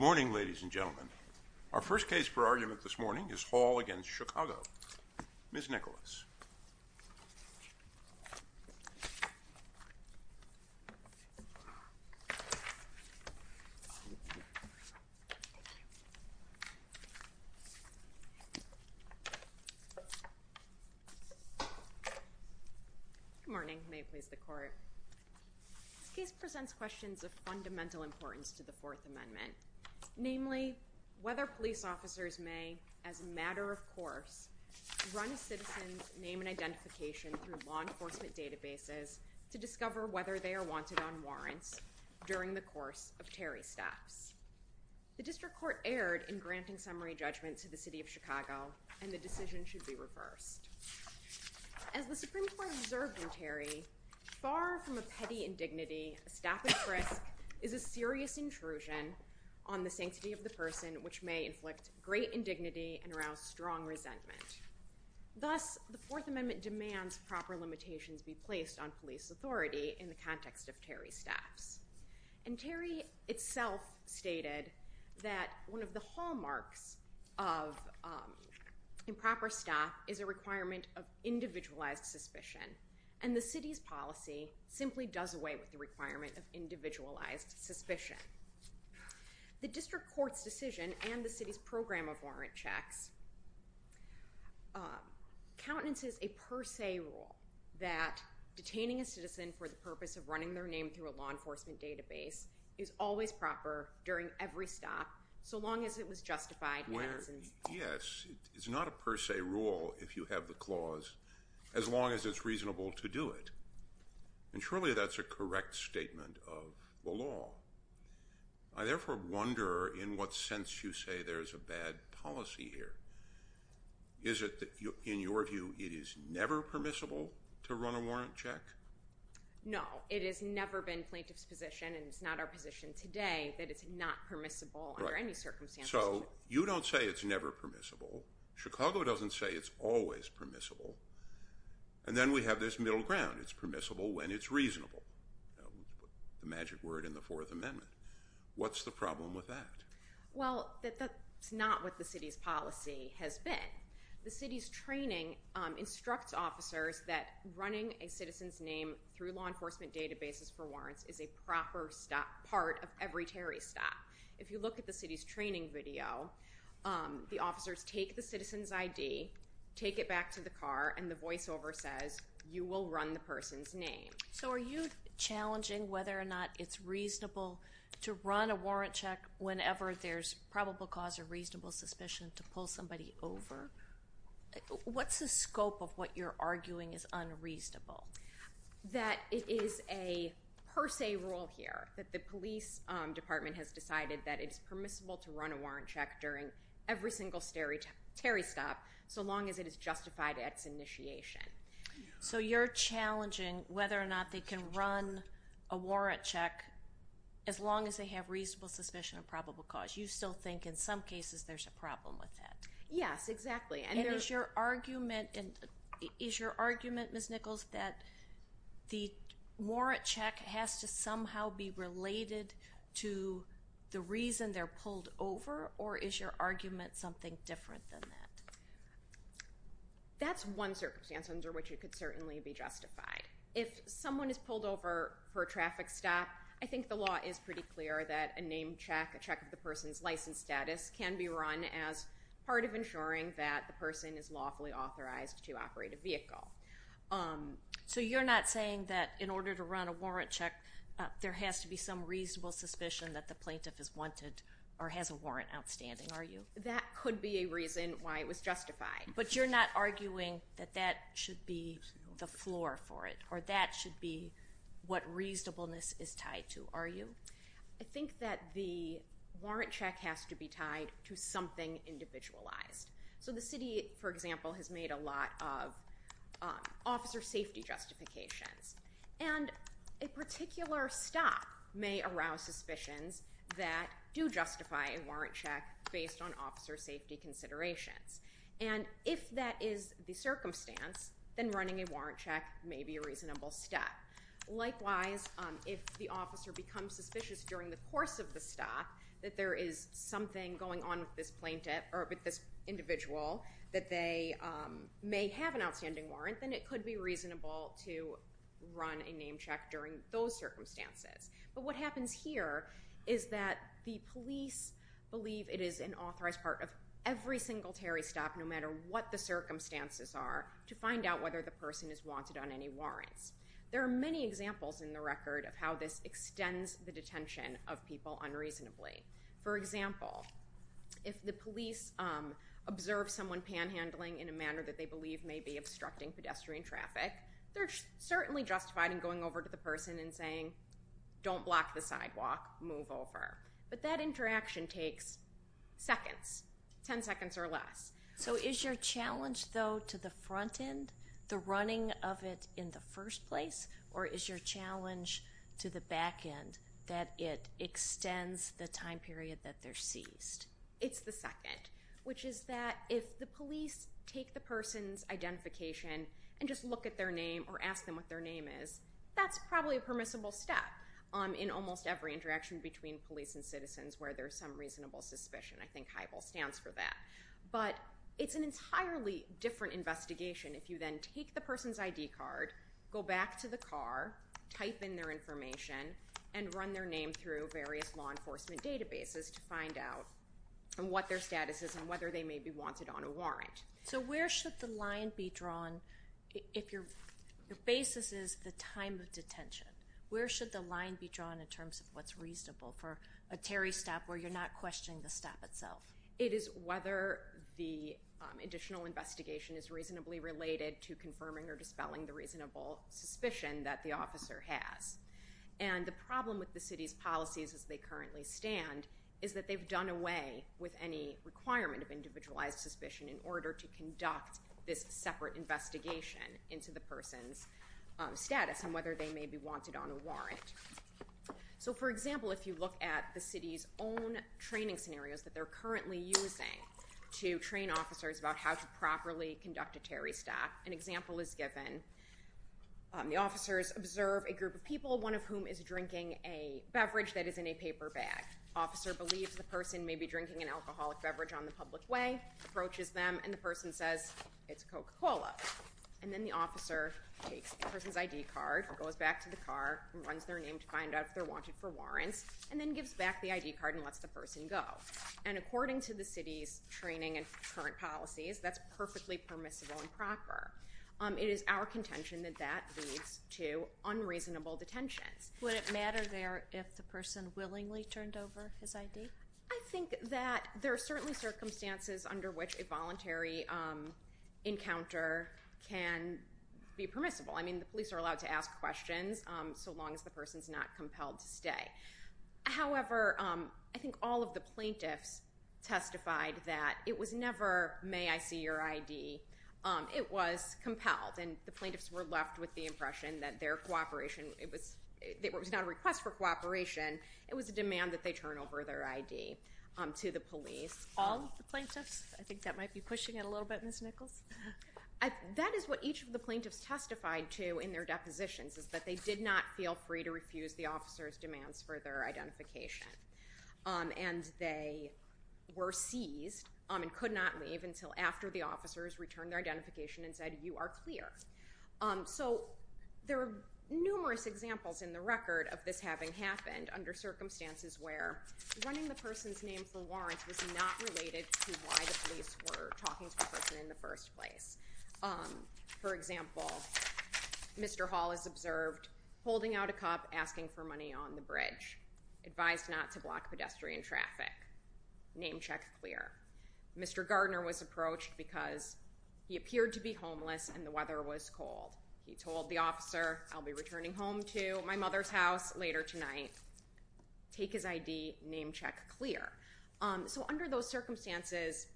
Morning ladies and gentlemen. Our first case for argument this morning is Hall v. Chicago. Ms. Nicholas. Good morning. May it please the Court. This case presents questions of fundamental importance to the Fourth Amendment, namely, whether police officers may, as a matter of course, run a citizen's name and identification through law enforcement databases to discover whether they are wanted on warrants during the course of Terry's staffs. The District Court erred in granting summary judgments to the City of Chicago, and the decision should be reversed. As the Supreme Court observed in Terry, far from a petty indignity, a staff at-risk is a serious intrusion on the sanctity of the person, which may inflict great indignity and arouse strong resentment. Thus, the Fourth Amendment demands proper limitations be placed on police authority in the context of Terry's staffs. And Terry itself stated that one of the hallmarks of improper staff is a requirement of individualized suspicion, and the City's The District Court's decision and the City's program of warrant checks countenances a per se rule that detaining a citizen for the purpose of running their name through a law enforcement database is always proper during every stop, so long as it was justified at a citizen's door. Well, yes, it's not a per se rule if you have the clause, as long as it's reasonable to I therefore wonder in what sense you say there's a bad policy here. Is it that, in your view, it is never permissible to run a warrant check? No, it has never been plaintiff's position, and it's not our position today, that it's not permissible under any circumstances. So, you don't say it's never permissible. Chicago doesn't say it's always permissible. And then we have this middle ground. It's permissible when it's reasonable. The magic word in the Fourth Amendment. What's the problem with that? Well, that's not what the City's policy has been. The City's training instructs officers that running a citizen's name through law enforcement databases for warrants is a proper part of every Terry stop. If you look at the City's training video, the officers take the citizen's ID, take it back to the car, and the voiceover says, you will run the person's name. So, are you challenging whether or not it's reasonable to run a warrant check whenever there's probable cause or reasonable suspicion to pull somebody over? What's the scope of what you're arguing is unreasonable? That it is a per se rule here, that the police department has decided that it's permissible to run a warrant check during every single Terry stop so long as it is justified at its initiation. So, you're challenging whether or not they can run a warrant check as long as they have reasonable suspicion of probable cause. You still think in some cases there's a problem with that. Yes, exactly. And is your argument, Ms. Nichols, that the warrant check has to somehow be related to the reason they're pulled over, or is your argument something different than that? That's one circumstance under which it could certainly be justified. If someone is pulled over for a traffic stop, I think the law is pretty clear that a name check, a check of the person's license status, can be run as part of ensuring that the person is lawfully authorized to operate a vehicle. So, you're not saying that in order to run a warrant check, there has to be some reasonable suspicion that the plaintiff is wanted or has a warrant outstanding, are you? That could be a reason why it was justified. But you're not arguing that that should be the floor for it, or that should be what reasonableness is tied to, are you? I think that the warrant check has to be tied to something individualized. So, the city, for example, has made a lot of officer safety justifications, and a particular stop may be based on officer safety considerations. And if that is the circumstance, then running a warrant check may be a reasonable step. Likewise, if the officer becomes suspicious during the course of the stop that there is something going on with this individual that they may have an outstanding warrant, then it could be reasonable to run a name check during those circumstances. But what happens here is that the police believe it is an authorized part of every single Terry stop, no matter what the circumstances are, to find out whether the person is wanted on any warrants. There are many examples in the record of how this extends the detention of people unreasonably. For example, if the police observe someone panhandling in a manner that they believe may be obstructing pedestrian traffic, they're certainly justified in going over to the person and saying, don't block the sidewalk, move over. But that interaction takes seconds, ten seconds or less. So, is your challenge, though, to the front end, the running of it in the first place, or is your challenge to the back end, that it extends the time period that they're seized? It's the second, which is that if the police take the person's identification and just look at their name or ask them what their name is, that's probably a permissible step in almost every interaction between police and citizens where there's some reasonable suspicion. I think HIVAL stands for that. But it's an entirely different investigation if you then take the person's ID card, go back to the car, type in their information, and run their name through various law enforcement databases to find out what their status is and whether they may be wanted on a warrant. So where should the line be drawn if your basis is the time of detention? Where should the line be drawn in terms of what's reasonable for a Terry stop where you're not questioning the stop itself? It is whether the additional investigation is reasonably related to confirming or dispelling the reasonable suspicion that the officer has. And the problem with the city's policies as they currently stand is that they've done away with any requirement of individualized suspicion in order to conduct this separate investigation into the person's status and whether they may be wanted on a warrant. So for example, if you look at the city's own training scenarios that they're currently using to train officers about how to properly conduct a Terry stop, an example is given. The officers observe a group of people, one of whom is drinking a beverage that is in a paper bag. The officer believes the person may be drinking an alcoholic beverage on the public way, approaches them, and the person says, it's Coca-Cola. And then the officer takes the person's ID card, goes back to the car, runs their name to find out if they're wanted for warrants, and then gives back the ID card and lets the person go. And according to the city's training and current policies, that's perfectly permissible and proper. It is our contention that that leads to unreasonable detentions. Would it matter there if the person willingly turned over his ID? I think that there are certainly circumstances under which a voluntary encounter can be permissible. I mean, the police are allowed to ask questions so long as the person is not compelled to stay. However, I think all of the plaintiffs testified that it was never, may I see your ID? It was compelled. And the plaintiffs were left with the impression that their cooperation was not a request for cooperation. It was a demand that they turn over their ID to the police. All the plaintiffs? I think that might be pushing it a little bit, Ms. Nichols. That is what each of the plaintiffs testified to in their depositions, is that they did not feel free to refuse the officer's demands for their identification. And they were seized and could not leave until after the officers returned their identification and said, you are clear. So there are numerous examples in the record of this having happened under circumstances where running the person's name for warrants was not related to why the police were talking to the person in the first place. For example, Mr. Hall is observed holding out a cup, asking for money on the bridge, advised not to block pedestrian traffic, name check clear. Mr. Hall, he appeared to be homeless and the weather was cold. He told the officer, I'll be returning home to my mother's house later tonight. Take his ID, name check clear. So under those circumstances,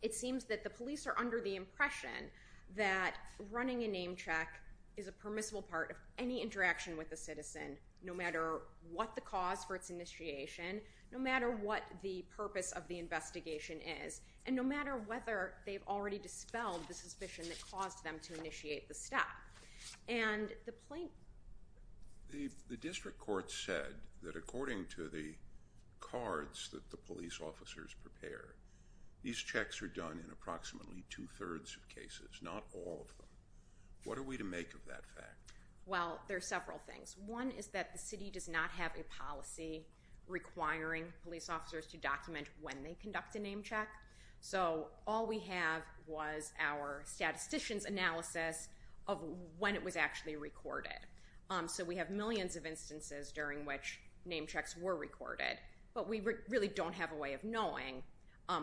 it seems that the police are under the impression that running a name check is a permissible part of any interaction with a citizen, no matter what the cause for its initiation, no matter what the purpose of the investigation is, and no matter what the suspicion that caused them to initiate the step. And the plaintiff... The district court said that according to the cards that the police officers prepare, these checks are done in approximately two-thirds of cases, not all of them. What are we to make of that fact? Well, there are several things. One is that the city does not have a policy requiring police officers to document when they conduct a name check. So all we have was our statistician's analysis of when it was actually recorded. So we have millions of instances during which name checks were recorded, but we really don't have a way of knowing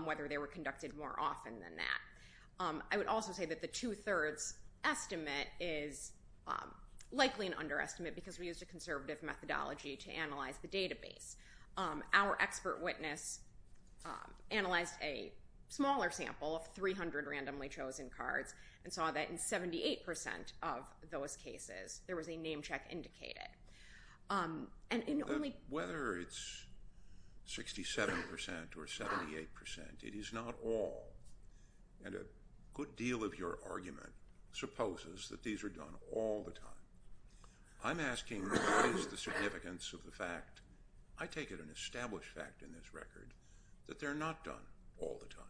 whether they were conducted more often than that. I would also say that the two-thirds estimate is likely an underestimate because we used a conservative methodology to analyze the database. Our expert witness analyzed a smaller sample of 300 randomly chosen cards and saw that in 78% of those cases, there was a name check indicated. But whether it's 67% or 78%, it is not all. And a good deal of your argument supposes that these are done all the time. I'm asking what is the significance of the fact, I take it an established fact in this record, that they're not done all the time.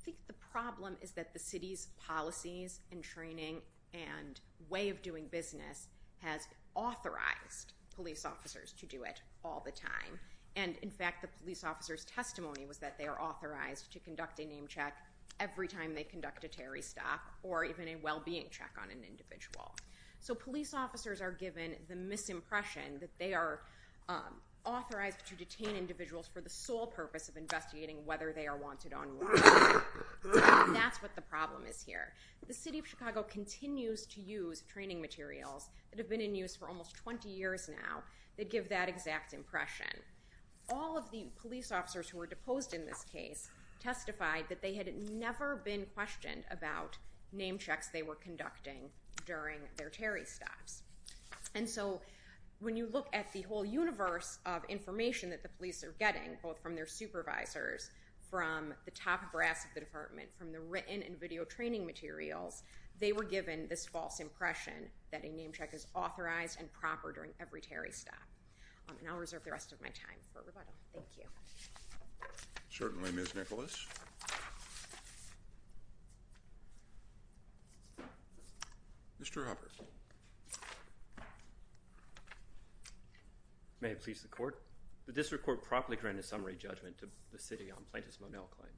I think the problem is that the city's policies and training and way of doing business has authorized police officers to do it all the time. And in fact, the police officer's testimony was that they are authorized to conduct a name check every time they conduct a Terry stop, or even a well-being check on an individual. So police officers are given the misimpression that they are authorized to detain individuals for the sole purpose of investigating whether they are wanted or not. That's what the problem is here. The city of Chicago continues to use training materials that have been in use for almost 20 years now that give that exact impression. All of the police officers who were deposed in this case testified that they had never been questioned about name checks they were conducting during their Terry stops. And so when you look at the whole universe of information that the police are getting, both from their supervisors, from the top brass of the department, from the written and video training materials, they were given this false impression that a name check is my time for rebuttal. Thank you. Certainly, Ms. Nicholas. Mr. Hubbard. May it please the court. The district court promptly granted summary judgment to the city on Plaintiff's Monell claim.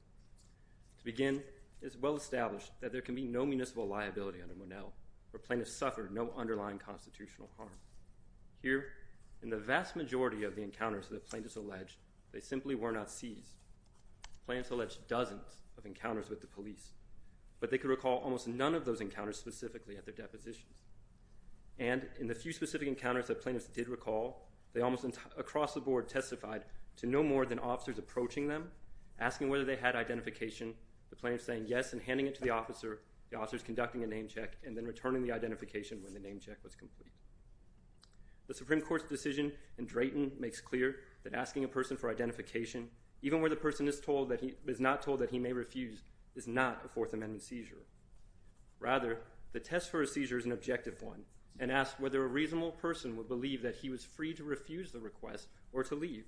To begin, it is well established that there can be no municipal liability under Monell where plaintiffs suffered no underlying constitutional harm. Here, in a vast majority of the encounters that plaintiffs alleged, they simply were not seized. Plaintiffs alleged dozens of encounters with the police, but they could recall almost none of those encounters specifically at their depositions. And in the few specific encounters that plaintiffs did recall, they almost across the board testified to no more than officers approaching them, asking whether they had identification, the plaintiffs saying yes and handing it to the officer, the officers conducting a name check, and then returning the identification when Drayton makes clear that asking a person for identification, even when the person is told that he is not told that he may refuse, is not a Fourth Amendment seizure. Rather, the test for a seizure is an objective one and asks whether a reasonable person would believe that he was free to refuse the request or to leave.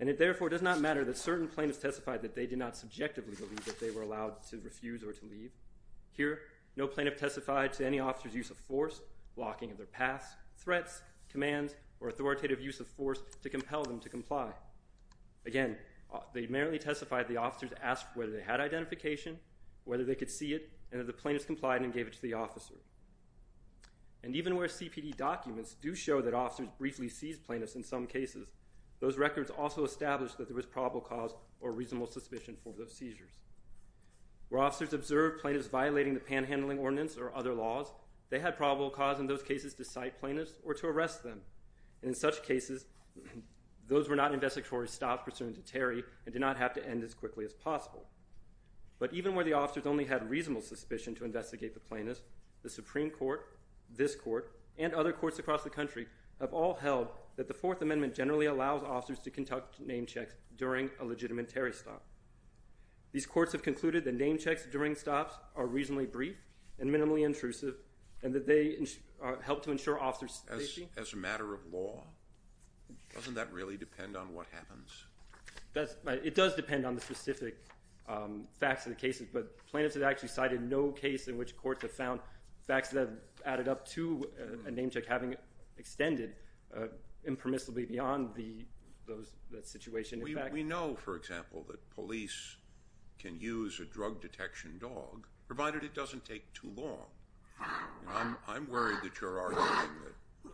And it therefore does not matter that certain plaintiffs testified that they did not subjectively believe that they were allowed to refuse or to leave. Here, no plaintiff testified to any officer's use of force, blocking of their paths, threats, commands, or authoritative use of force to compel them to comply. Again, they merely testified the officers asked whether they had identification, whether they could see it, and if the plaintiffs complied and gave it to the officer. And even where CPD documents do show that officers briefly seized plaintiffs in some cases, those records also establish that there was probable cause or reasonable suspicion for those seizures. Where officers observed plaintiffs violating the Panhandling Ordinance or other laws, they had probable cause in those cases to cite plaintiffs or to arrest them. And in such cases, those were not investigatory stops pursuant to Terry and did not have to end as quickly as possible. But even where the officers only had reasonable suspicion to investigate the plaintiffs, the Supreme Court, this Court, and other courts across the country have all held that the Fourth Amendment generally allows officers to conduct name checks during a legitimate Terry stop. These courts have concluded that name checks during stops are helpful to ensure officers' safety. As a matter of law? Doesn't that really depend on what happens? It does depend on the specific facts of the cases, but plaintiffs have actually cited no case in which courts have found facts that have added up to a name check having extended impermissibly beyond that situation. We know, for example, that police can use a drug detection dog, provided it doesn't take too long. I'm worried that you're arguing that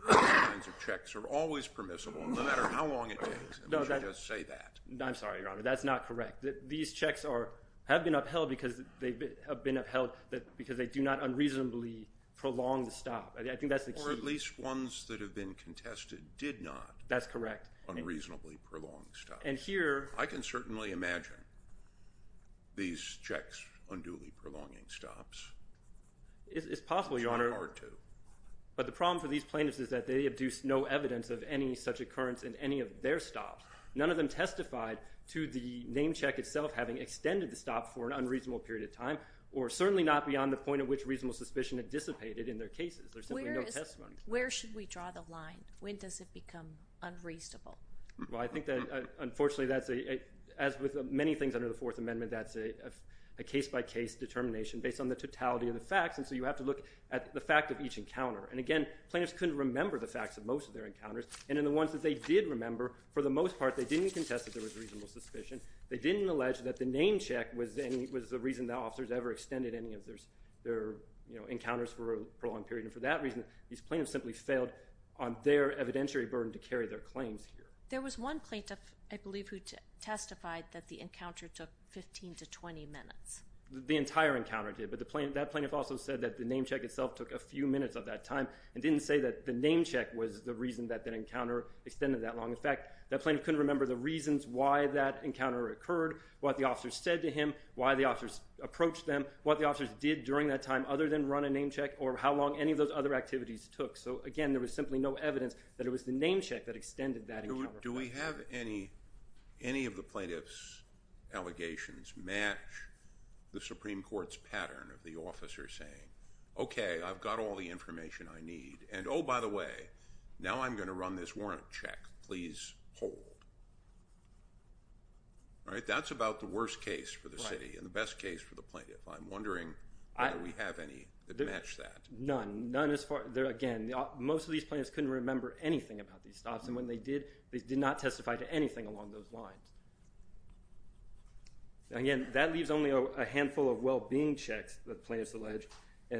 these kinds of checks are always permissible, no matter how long it takes, unless you just say that. I'm sorry, Your Honor, that's not correct. These checks have been upheld because they do not unreasonably prolong the stop. Or at least ones that have been contested did not unreasonably prolong stops. I can certainly imagine these checks unduly prolonging stops. It's possible, Your Honor, but the problem for these plaintiffs is that they have no evidence of any such occurrence in any of their stops. None of them testified to the name check itself having extended the stop for an unreasonable period of time, or certainly not beyond the point at which reasonable suspicion had dissipated in their cases. Where should we draw the line? When does it become unreasonable? Unfortunately, as with many things under the Fourth Amendment, that's a case-by-case determination based on the totality of the facts, and so you have to look at the fact of each encounter. And again, plaintiffs couldn't remember the facts of most of their encounters, and in the ones that they did remember, for the most part, they didn't contest that there was reasonable suspicion. They didn't allege that the name check was the reason that officers ever extended any of their encounters for a prolonged period, and for that reason, these plaintiffs simply failed on their evidentiary burden to carry their claims here. There was one plaintiff, I believe, who testified that the encounter took 15 to 20 minutes. The entire encounter did, but that plaintiff also said that the name check itself took a few minutes of that time, and didn't say that the name check was the reason that that encounter extended that long. In fact, that plaintiff couldn't remember the reasons why that encounter occurred, what the officers said to him, why the officers approached them, what the officers did during that time other than run a name check, or how long any of those other activities took. So again, there was simply no evidence that it was the name check that extended that encounter. Do we have any of the plaintiff's allegations match the Supreme Court's pattern of the officer saying, okay, I've got all the information I need, and oh, by the way, now I'm going to run this warrant check. Please hold. That's about the worst case for the city and the best case for the plaintiff. I'm wondering whether we have any that match that. None. Again, most of these plaintiffs couldn't remember anything about these stops, and when they did, they did not testify to anything along those lines. Again, that leaves only a handful of well-being checks, the plaintiffs allege,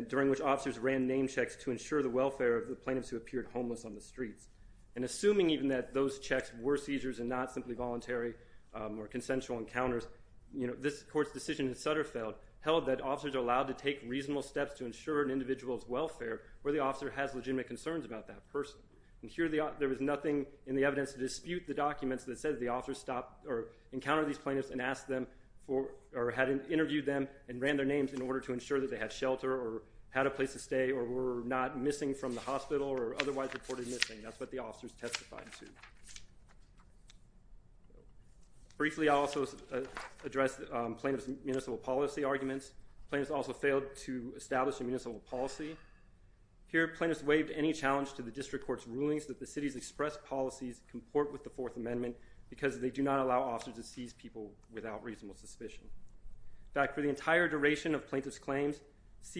during which officers ran name checks to ensure the welfare of the plaintiffs who appeared homeless on the streets. And assuming even that those checks were seizures and not simply voluntary or consensual encounters, this Court's decision in Sutterfeld held that officers are allowed to take reasonable steps to ensure an individual's welfare where the officer has legitimate concerns about that person. And here, there was nothing in the evidence to dispute the documents that said the officers stopped or encountered these plaintiffs and asked them for, or had interviewed them and ran their names in order to ensure that they had shelter or had a place to stay or were not missing from the hospital or otherwise reported missing. That's what the officers testified to. Briefly, I'll also address plaintiff's municipal policy arguments. Plaintiffs also failed to establish a municipal policy. Here, plaintiffs waived any challenge to the District Court's rulings that the city's express policies comport with the Fourth Amendment because they do not allow officers to seize people without reasonable suspicion. In fact, for the entire duration of the case, the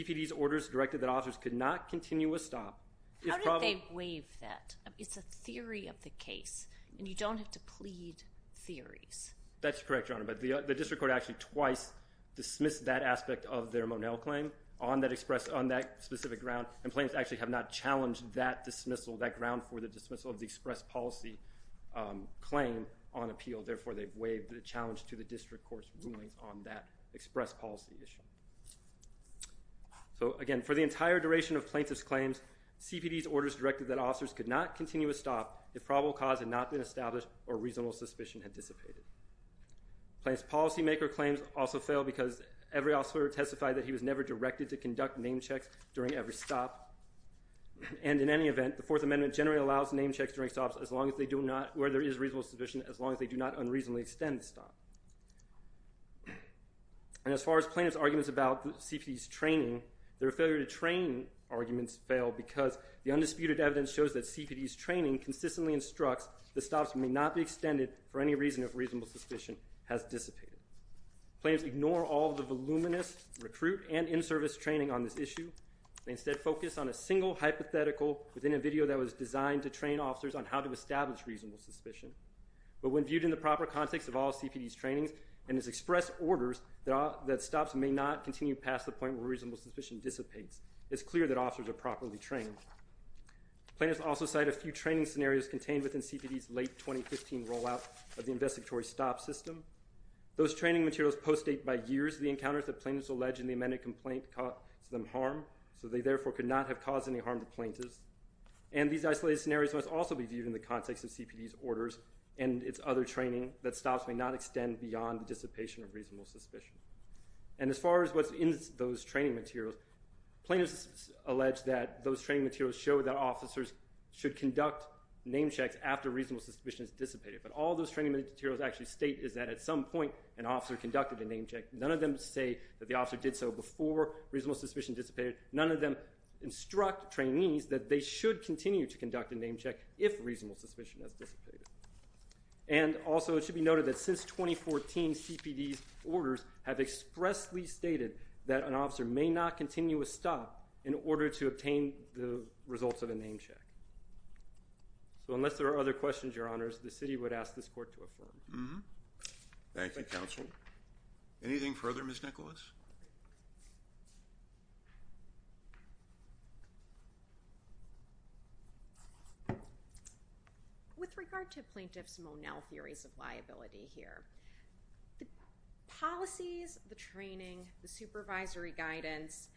District Court could not continue a stop. How did they waive that? It's a theory of the case, and you don't have to plead theories. That's correct, Your Honor, but the District Court actually twice dismissed that aspect of their Monell claim on that specific ground, and plaintiffs actually have not challenged that dismissal, that ground for the dismissal of the express policy claim on appeal. Therefore, they've waived the challenge to the District Court's rulings on that express policy issue. So again, for the entire duration of plaintiff's claims, CPD's orders directed that officers could not continue a stop if probable cause had not been established or reasonable suspicion had dissipated. Plaintiff's policymaker claims also failed because every officer testified that he was never directed to conduct name checks during every stop, and in any event, the Fourth Amendment generally allows name checks during stops where there is reasonable suspicion as long as they do not unreasonably extend the stop. And as far as plaintiff's arguments about CPD's training, their failure to train arguments failed because the undisputed evidence shows that CPD's training consistently instructs that stops may not be extended for any reason if reasonable suspicion has dissipated. Plaintiffs ignore all the voluminous recruit and in-service training on this issue. They instead focus on a single hypothetical within a video that was designed to train officers on how to establish reasonable suspicion. But when viewed in the proper context of all CPD's trainings and its express orders that stops may not continue past the point where reasonable suspicion dissipates, it's clear that officers are properly trained. Plaintiffs also cite a few training scenarios contained within CPD's late 2015 rollout of the investigatory stop system. Those training materials postdate by years the encounters that plaintiffs allege in the amended complaint caused them harm, so they therefore could not have caused any harm to plaintiffs. And these isolated scenarios must also be viewed in the context of CPD's orders and its other training that stops may not extend beyond the dissipation of reasonable suspicion. And as far as what's in those training materials, plaintiffs allege that those training materials show that officers should conduct name checks after reasonable suspicion has dissipated. But all those training materials actually state is that at some point an officer conducted a name check. None of them say that the officer did so before reasonable suspicion dissipated. None of them instruct trainees that they should continue to conduct a name check if reasonable suspicion has dissipated. And also it should be noted that since 2014, CPD's orders have expressly stated that an officer may not continue a stop in order to obtain the results of a name check. So unless there are other questions, Your Honors, the city would ask this court to affirm. Thank you, Counsel. Anything further, Ms. Nicholas? With regard to Plaintiff's Monell Theories of Liability here, the policies, the training, the supervisory guidance,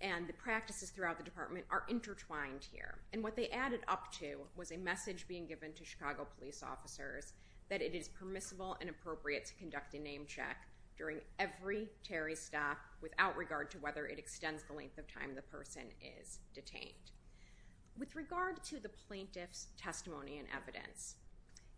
and the practices throughout the department are intertwined here. And what they added up to was a message being given to Chicago police officers that it is permissible and appropriate to conduct a name check during every Terry stop without regard to whether it extends the length of time the person is detained. With regard to the plaintiff's testimony and evidence,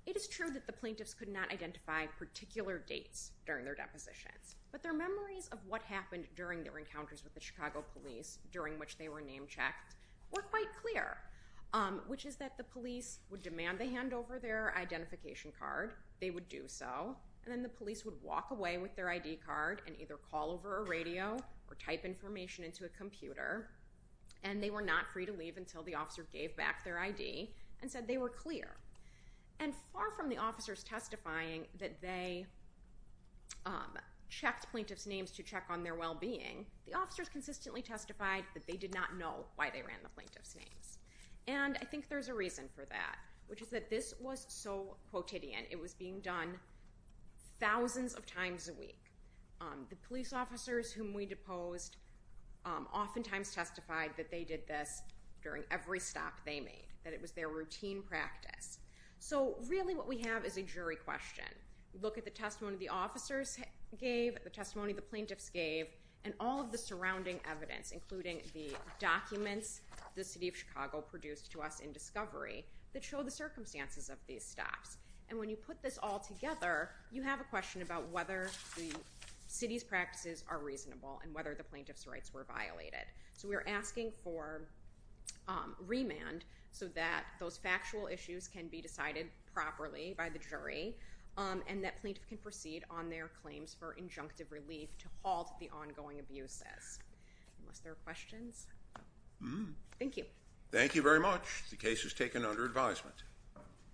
it is true that the plaintiffs could not identify particular dates during their depositions. But their memories of what happened during their encounters with the Chicago police during which they were name checked were quite clear, which is that the police would demand they hand over their identification card. They would do so. And then the police would walk away with their ID card and either call over a radio or type information into a computer. And they were not free to leave until the officer gave back their ID and said they were clear. And far from the officers testifying that they checked plaintiff's names to check on their well-being, the officers consistently testified that they did not know why they ran the plaintiff's names. And I think there's a reason for that, which is that this was so quotidian. It was being done thousands of times a week. The police officers whom we deposed oftentimes testified that they did this during every stop they made, that it was their routine practice. So really what we have is a jury question. We look at the testimony the officers gave, the testimony the plaintiffs gave, and all of the surrounding evidence, including the documents the city of Chicago produced to us in discovery that show the circumstances of these stops. And when you put this all together, you have a question about whether the city's practices are reasonable and whether the plaintiff's rights were violated. So we are asking for that to be asked thoroughly by the jury, and that plaintiff can proceed on their claims for injunctive relief to halt the ongoing abuses. Unless there are questions? Thank you. Thank you very much. The case is taken under advisement.